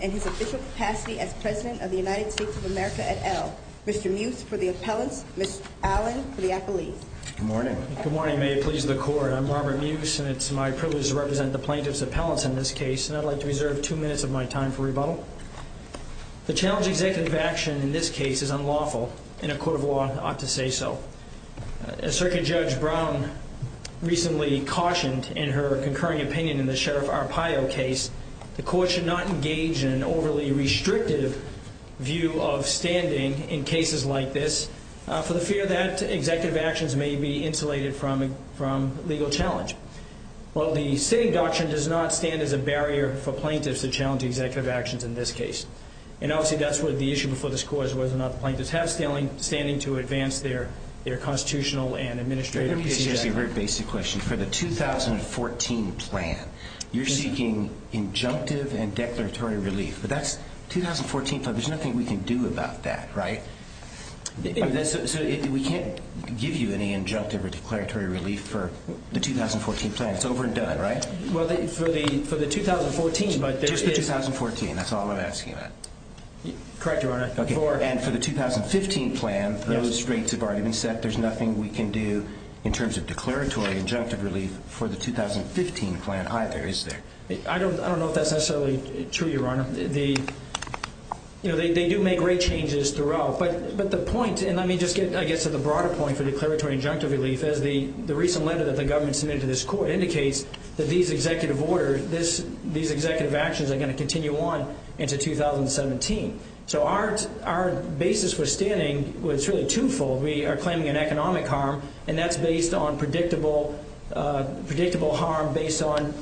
and his official capacity as President of the United States of America et al. Mr. Muce for the appellants, Ms. Allen for the appellees. Good morning. Good morning. May it please the Court. I'm Robert Muce, and it's my privilege to represent the plaintiffs' appellants in this case, and I'd like to reserve two minutes of my time for rebuttal. The challenge of executive action in this case is unlawful in a court of law, Mr. Muce for the appellants, Ms. Allen for the appellees, and I ought to say so. As Circuit Judge Brown recently cautioned in her concurring opinion in the Sheriff Arpaio case, the Court should not engage in an overly restrictive view of standing in cases like this for the fear that executive actions may be insulated from legal challenge. While the sitting doctrine does not stand as a barrier for plaintiffs to challenge executive actions in this case, and obviously that's what the issue before this Court was, whether or not the plaintiffs have standing to advance their constitutional and administrative executive action. Let me ask you a very basic question. For the 2014 plan, you're seeking injunctive and declaratory relief, but that's 2014. There's nothing we can do about that, right? We can't give you any injunctive or declaratory relief for the 2014 plan. It's over and done, right? Well, for the 2014, but there is... Just the 2014. That's all I'm asking about. Correct, Your Honor. And for the 2015 plan, those straits have already been set. There's nothing we can do in terms of declaratory injunctive relief for the 2015 plan either, is there? I don't know if that's necessarily true, Your Honor. They do make great changes throughout, but the point, and let me just get to the broader point for declaratory injunctive relief, is the recent letter that the government submitted to this Court indicates that these executive orders, these executive actions are going to continue on into 2017. So our basis for standing is really twofold. We are claiming an economic harm, and that's based on predictable harm based on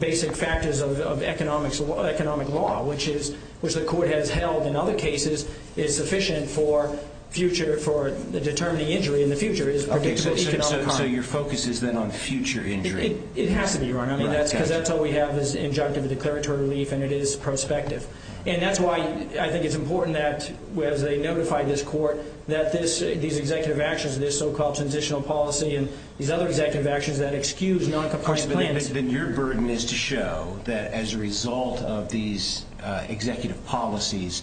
basic factors of economic law, which the Court has held in other cases is sufficient for the determining injury in the future. So your focus is then on future injury? It has to be, Your Honor. Because that's all we have is injunctive declaratory relief, and it is prospective. And that's why I think it's important that as they notify this Court that these executive actions, this so-called transitional policy, and these other executive actions that excuse non-compliant plans... Then your burden is to show that as a result of these executive policies,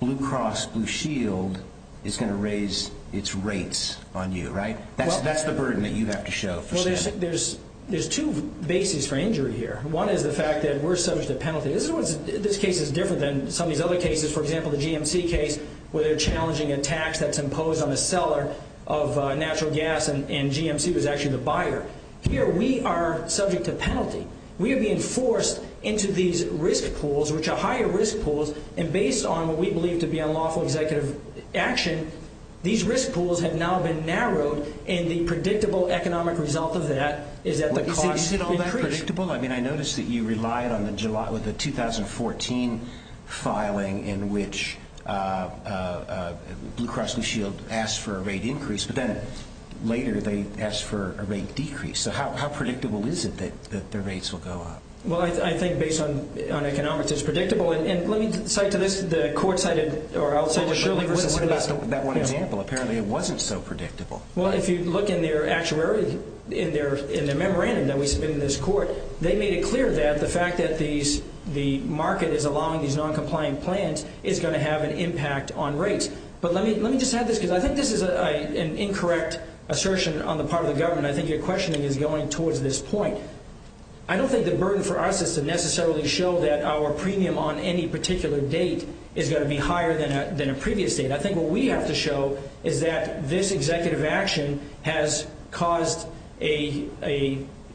Blue Cross Blue Shield is going to raise its rates on you, right? That's the burden that you have to show for standing. Well, there's two bases for injury here. One is the fact that we're subject to penalty. This case is different than some of these other cases. For example, the GMC case where they're challenging a tax that's imposed on the seller of natural gas, and GMC was actually the buyer. Here we are subject to penalty. We are being forced into these risk pools, which are higher risk pools, and based on what we believe to be unlawful executive action, these risk pools have now been narrowed, and the predictable economic result of that is that the costs increase. Is it all that predictable? I mean, I noticed that you relied on the 2014 filing in which Blue Cross Blue Shield asked for a rate increase, but then later they asked for a rate decrease. So how predictable is it that the rates will go up? Well, I think based on economics it's predictable. And let me cite to this, the court cited, or I'll cite to this. What about that one example? Apparently it wasn't so predictable. Well, if you look in their actuary, in their memorandum that we submitted to this court, they made it clear that the fact that the market is allowing these noncompliant plans is going to have an impact on rates. But let me just add this, because I think this is an incorrect assertion on the part of the government. I think your questioning is going towards this point. I don't think the burden for us is to necessarily show that our premium on any particular date is going to be higher than a previous date. I think what we have to show is that this executive action has caused a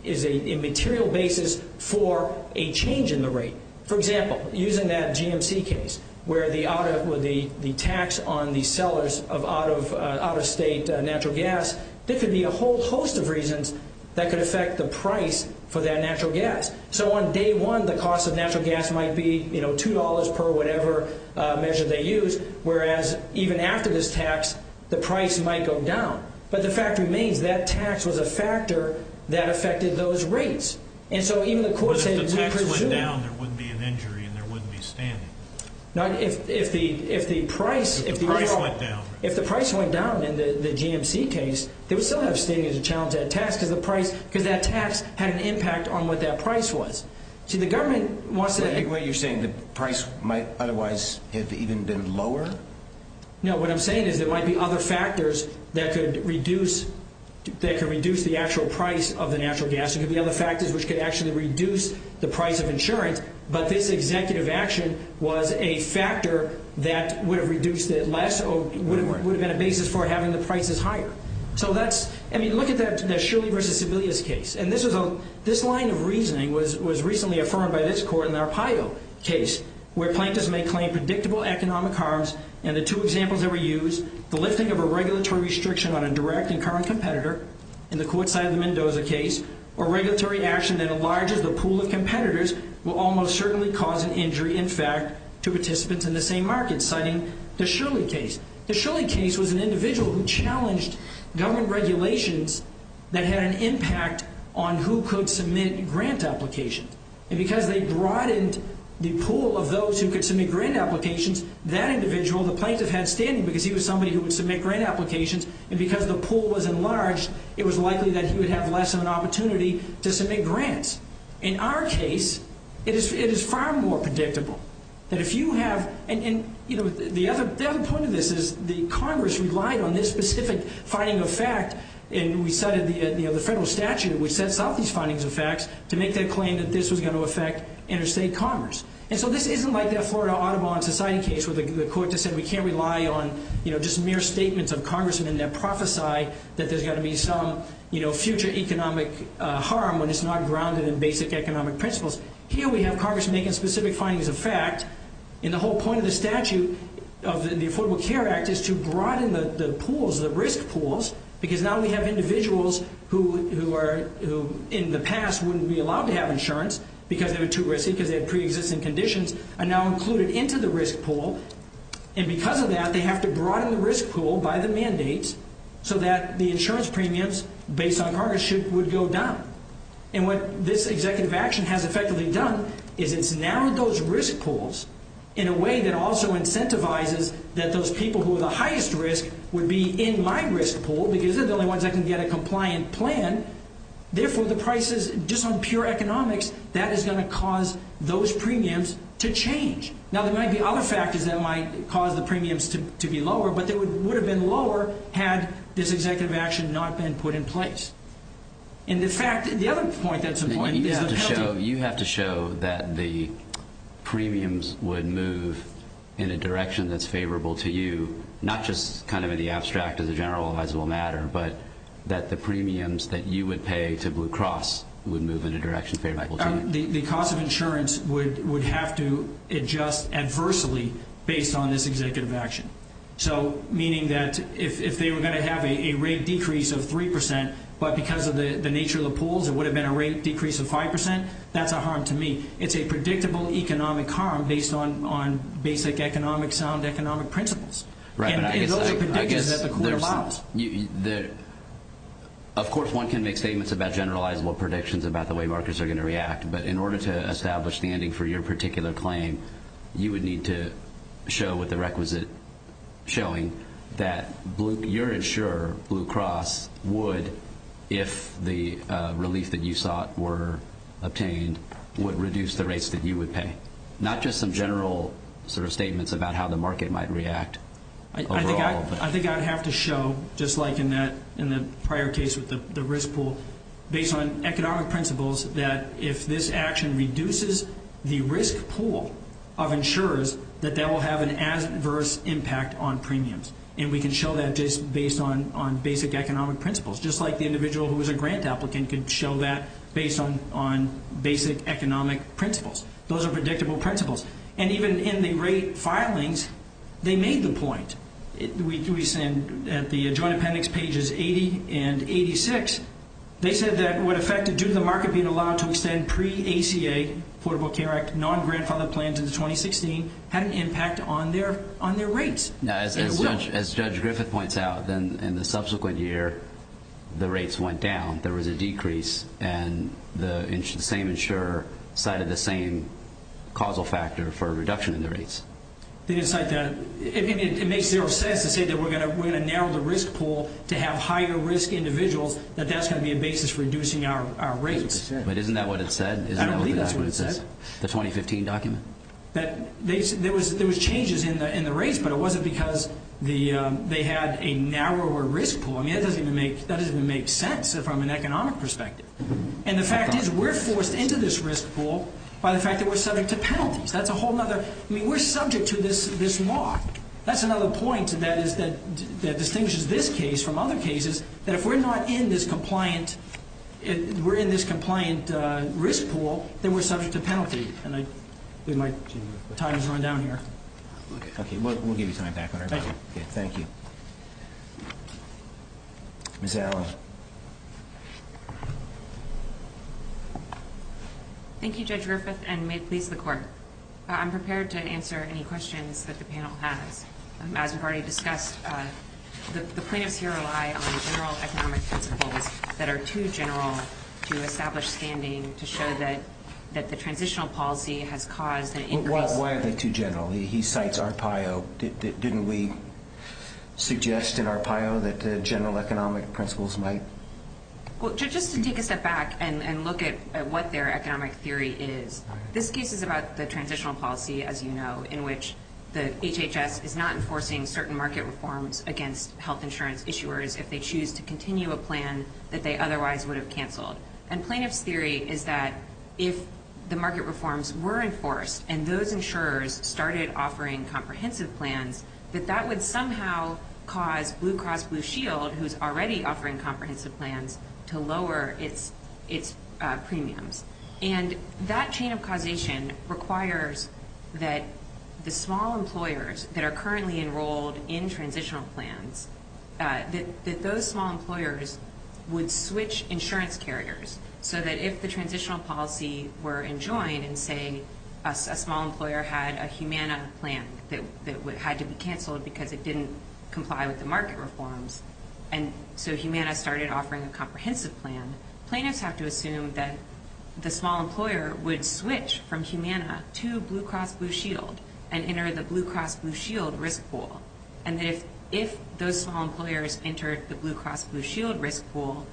material basis for a change in the rate. For example, using that GMC case where the tax on the sellers of out-of-state natural gas, there could be a whole host of reasons that could affect the price for that natural gas. So on day one, the cost of natural gas might be $2 per whatever measure they use, whereas even after this tax, the price might go down. But the fact remains, that tax was a factor that affected those rates. And so even the court said, we presume. But if the tax went down, there wouldn't be an injury and there wouldn't be standing. If the price went down in the GMC case, there would still have standing as a challenge to that tax, because that tax had an impact on what that price was. See, the government wants to… Wait, wait, you're saying the price might otherwise have even been lower? No, what I'm saying is there might be other factors that could reduce the actual price of the natural gas. There could be other factors which could actually reduce the price of insurance. But this executive action was a factor that would have reduced it less or would have been a basis for having the prices higher. So that's… I mean, look at that Shirley v. Sebelius case. And this line of reasoning was recently affirmed by this court in the Arpaio case, where plaintiffs may claim predictable economic harms, and the two examples that were used, the lifting of a regulatory restriction on a direct and current competitor, in the court side of the Mendoza case, or regulatory action that enlarges the pool of competitors, will almost certainly cause an injury, in fact, to participants in the same market, citing the Shirley case. The Shirley case was an individual who challenged government regulations that had an impact on who could submit grant applications. And because they broadened the pool of those who could submit grant applications, that individual, the plaintiff, had standing because he was somebody who would submit grant applications. And because the pool was enlarged, it was likely that he would have less of an opportunity to submit grants. In our case, it is far more predictable that if you have… And, you know, the other point of this is the Congress relied on this specific finding of fact, and we cited the federal statute which sets out these findings of facts to make the claim that this was going to affect interstate commerce. And so this isn't like that Florida Audubon society case where the court just said we can't rely on, you know, just mere statements of congressmen that prophesy that there's got to be some, you know, future economic harm when it's not grounded in basic economic principles. Here we have congressmen making specific findings of fact, and the whole point of the statute of the Affordable Care Act is to broaden the pools, the risk pools, because now we have individuals who in the past wouldn't be allowed to have insurance because they were too risky, because they had pre-existing conditions, are now included into the risk pool. And because of that, they have to broaden the risk pool by the mandates so that the insurance premiums based on Congress would go down. And what this executive action has effectively done is it's narrowed those risk pools in a way that also incentivizes that those people who are the highest risk would be in my risk pool because they're the only ones that can get a compliant plan. Therefore, the prices, just on pure economics, that is going to cause those premiums to change. Now, there might be other factors that might cause the premiums to be lower, but they would have been lower had this executive action not been put in place. And the fact, the other point that's important is the penalty. You have to show that the premiums would move in a direction that's favorable to you, not just kind of in the abstract as a general, as will matter, but that the premiums that you would pay to Blue Cross would move in a direction favorable to you. The cost of insurance would have to adjust adversely based on this executive action. So, meaning that if they were going to have a rate decrease of 3%, but because of the nature of the pools, it would have been a rate decrease of 5%, that's a harm to me. It's a predictable economic harm based on basic economic sound economic principles. And those are predictions that the court allows. Of course, one can make statements about generalizable predictions about the way markets are going to react, but in order to establish the ending for your particular claim, you would need to show with the requisite showing that your insurer, Blue Cross, would, if the relief that you sought were obtained, would reduce the rates that you would pay. Not just some general sort of statements about how the market might react overall. I think I would have to show, just like in the prior case with the risk pool, based on economic principles that if this action reduces the risk pool of insurers, that that will have an adverse impact on premiums. And we can show that just based on basic economic principles. Just like the individual who was a grant applicant could show that based on basic economic principles. Those are predictable principles. And even in the rate filings, they made the point. We said at the Joint Appendix pages 80 and 86, they said that what affected due to the market being allowed to extend pre-ACA, Affordable Care Act, non-grandfathered plans into 2016, had an impact on their rates. As Judge Griffith points out, in the subsequent year, the rates went down. There was a decrease, and the same insurer cited the same causal factor for a reduction in the rates. They didn't cite that. It makes zero sense to say that we're going to narrow the risk pool to have higher risk individuals, that that's going to be a basis for reducing our rates. But isn't that what it said? I don't believe that's what it said. The 2015 document. There was changes in the rates, but it wasn't because they had a narrower risk pool. I mean, that doesn't even make sense from an economic perspective. And the fact is we're forced into this risk pool by the fact that we're subject to penalties. That's a whole other – I mean, we're subject to this law. That's another point that distinguishes this case from other cases, that if we're not in this compliant – we're in this compliant risk pool, then we're subject to penalty. And I think my time has run down here. Okay. We'll give you time back on everybody. Thank you. Thank you. Ms. Allen. Thank you, Judge Griffith, and may it please the Court. I'm prepared to answer any questions that the panel has. As we've already discussed, the plaintiffs here rely on general economic principles that are too general to establish standing to show that the transitional policy has caused an increase. Why are they too general? He cites Arpaio. Didn't we suggest in Arpaio that general economic principles might? Just to take a step back and look at what their economic theory is, this case is about the transitional policy, as you know, in which the HHS is not enforcing certain market reforms against health insurance issuers if they choose to continue a plan that they otherwise would have canceled. And plaintiff's theory is that if the market reforms were enforced and those insurers started offering comprehensive plans, that that would somehow cause Blue Cross Blue Shield, who's already offering comprehensive plans, to lower its premiums. And that chain of causation requires that the small employers that are currently enrolled in transitional plans, that those small employers would switch insurance carriers so that if the transitional policy were enjoined and, say, a small employer had a Humana plan that had to be canceled because it didn't comply with the market reforms and so Humana started offering a comprehensive plan, plaintiffs have to assume that the small employer would switch from Humana to Blue Cross Blue Shield and enter the Blue Cross Blue Shield risk pool. And that if those small employers entered the Blue Cross Blue Shield risk pool,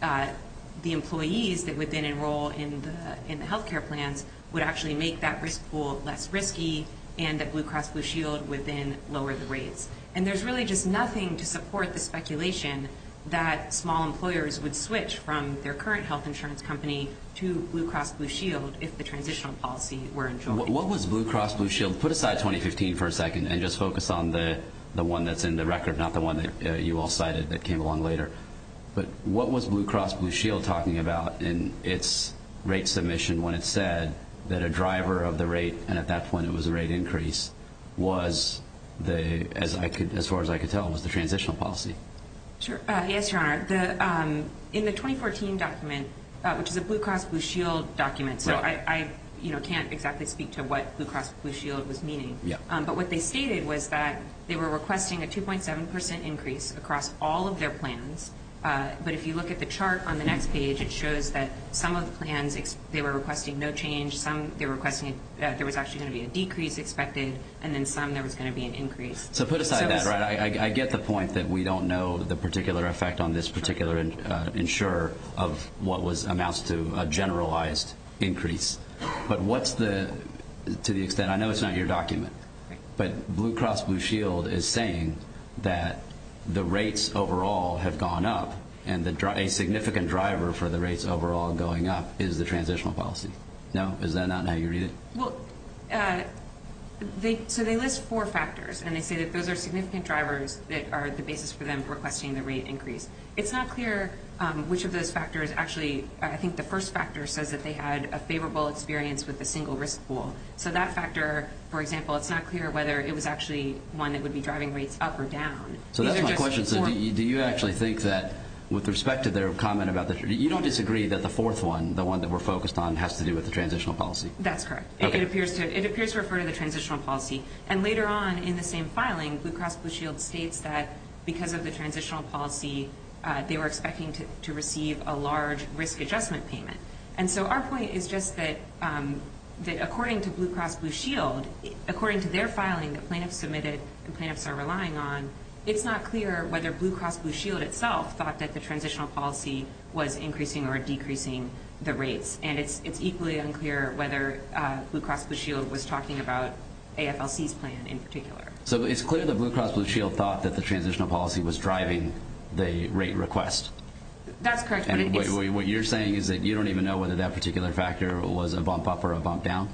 the employees that would then enroll in the health care plans would actually make that risk pool less risky and that Blue Cross Blue Shield would then lower the rates. And there's really just nothing to support the speculation that small employers would switch from their current health insurance company to Blue Cross Blue Shield if the transitional policy were enjoined. What was Blue Cross Blue Shield? Put aside 2015 for a second and just focus on the one that's in the record, not the one that you all cited that came along later. But what was Blue Cross Blue Shield talking about in its rate submission when it said that a driver of the rate, and at that point it was a rate increase, was, as far as I could tell, was the transitional policy? Sure. Yes, Your Honor. In the 2014 document, which is a Blue Cross Blue Shield document, so I can't exactly speak to what Blue Cross Blue Shield was meaning, but what they stated was that they were requesting a 2.7 percent increase across all of their plans. But if you look at the chart on the next page, it shows that some of the plans they were requesting no change, some they were requesting that there was actually going to be a decrease expected, and then some there was going to be an increase. So put aside that. I get the point that we don't know the particular effect on this particular insurer of what amounts to a generalized increase. But what's the, to the extent, I know it's not your document, but Blue Cross Blue Shield is saying that the rates overall have gone up, and a significant driver for the rates overall going up is the transitional policy. No? Is that not how you read it? Well, so they list four factors, and they say that those are significant drivers that are the basis for them requesting the rate increase. It's not clear which of those factors actually, I think the first factor says that they had a favorable experience with the single risk pool. So that factor, for example, it's not clear whether it was actually one that would be driving rates up or down. So that's my question. Do you actually think that with respect to their comment about the, you don't disagree that the fourth one, the one that we're focused on, has to do with the transitional policy? That's correct. It appears to refer to the transitional policy. And later on in the same filing, Blue Cross Blue Shield states that because of the transitional policy, they were expecting to receive a large risk adjustment payment. And so our point is just that according to Blue Cross Blue Shield, according to their filing that plaintiffs submitted and plaintiffs are relying on, it's not clear whether Blue Cross Blue Shield itself thought that the transitional policy was increasing or decreasing the rates. And it's equally unclear whether Blue Cross Blue Shield was talking about AFLC's plan in particular. So it's clear that Blue Cross Blue Shield thought that the transitional policy was driving the rate request? That's correct. What you're saying is that you don't even know whether that particular factor was a bump up or a bump down?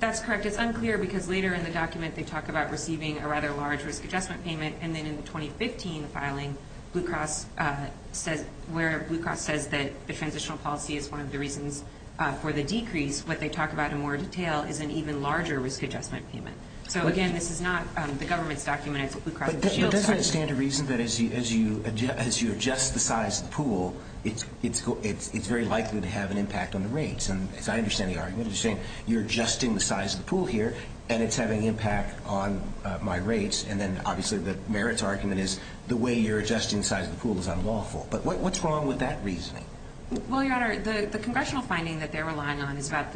That's correct. It's unclear because later in the document they talk about receiving a rather large risk adjustment payment. And then in the 2015 filing, where Blue Cross says that the transitional policy is one of the reasons for the decrease, what they talk about in more detail is an even larger risk adjustment payment. So, again, this is not the government's document. It's Blue Cross Blue Shield's document. But doesn't it stand to reason that as you adjust the size of the pool, it's very likely to have an impact on the rates? And as I understand the argument, you're saying you're adjusting the size of the pool here, and it's having impact on my rates. And then, obviously, the merits argument is the way you're adjusting the size of the pool is unlawful. But what's wrong with that reasoning? Well, Your Honor, the congressional finding that they're relying on is about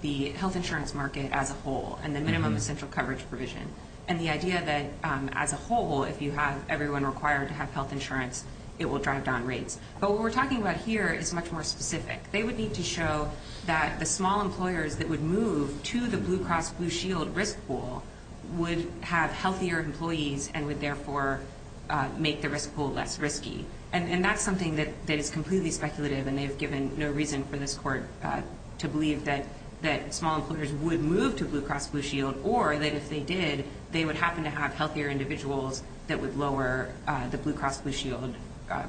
the health insurance market as a whole and the minimum essential coverage provision and the idea that as a whole, if you have everyone required to have health insurance, it will drive down rates. But what we're talking about here is much more specific. They would need to show that the small employers that would move to the Blue Cross Blue Shield risk pool would have healthier employees and would, therefore, make the risk pool less risky. And that's something that is completely speculative, and they've given no reason for this court to believe that small employers would move to Blue Cross Blue Shield or that if they did, they would happen to have healthier individuals that would lower the Blue Cross Blue Shield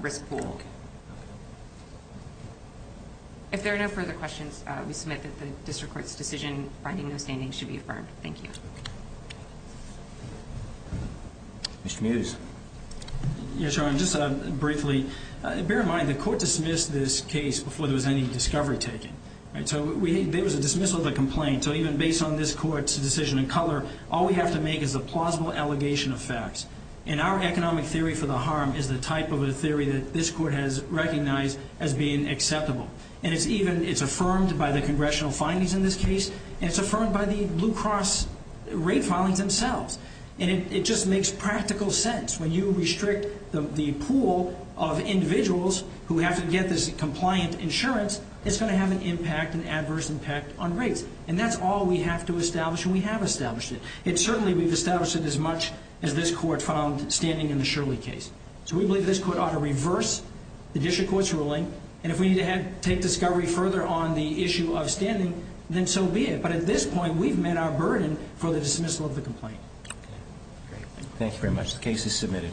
risk pool. If there are no further questions, we submit that the district court's decision finding no standing should be affirmed. Thank you. Mr. Mews. Yes, Your Honor, just briefly, bear in mind the court dismissed this case before there was any discovery taken. So there was a dismissal of the complaint. So even based on this court's decision in color, all we have to make is a plausible allegation of facts. And our economic theory for the harm is the type of a theory that this court has recognized as being acceptable. And it's even, it's affirmed by the congressional findings in this case, and it's affirmed by the Blue Cross rate filings themselves. And it just makes practical sense. When you restrict the pool of individuals who have to get this compliant insurance, it's going to have an impact, an adverse impact on rates. And that's all we have to establish, and we have established it. And certainly we've established it as much as this court found standing in the Shirley case. So we believe this court ought to reverse the district court's ruling. And if we need to take discovery further on the issue of standing, then so be it. But at this point, we've met our burden for the dismissal of the complaint. Thank you very much. The case is submitted.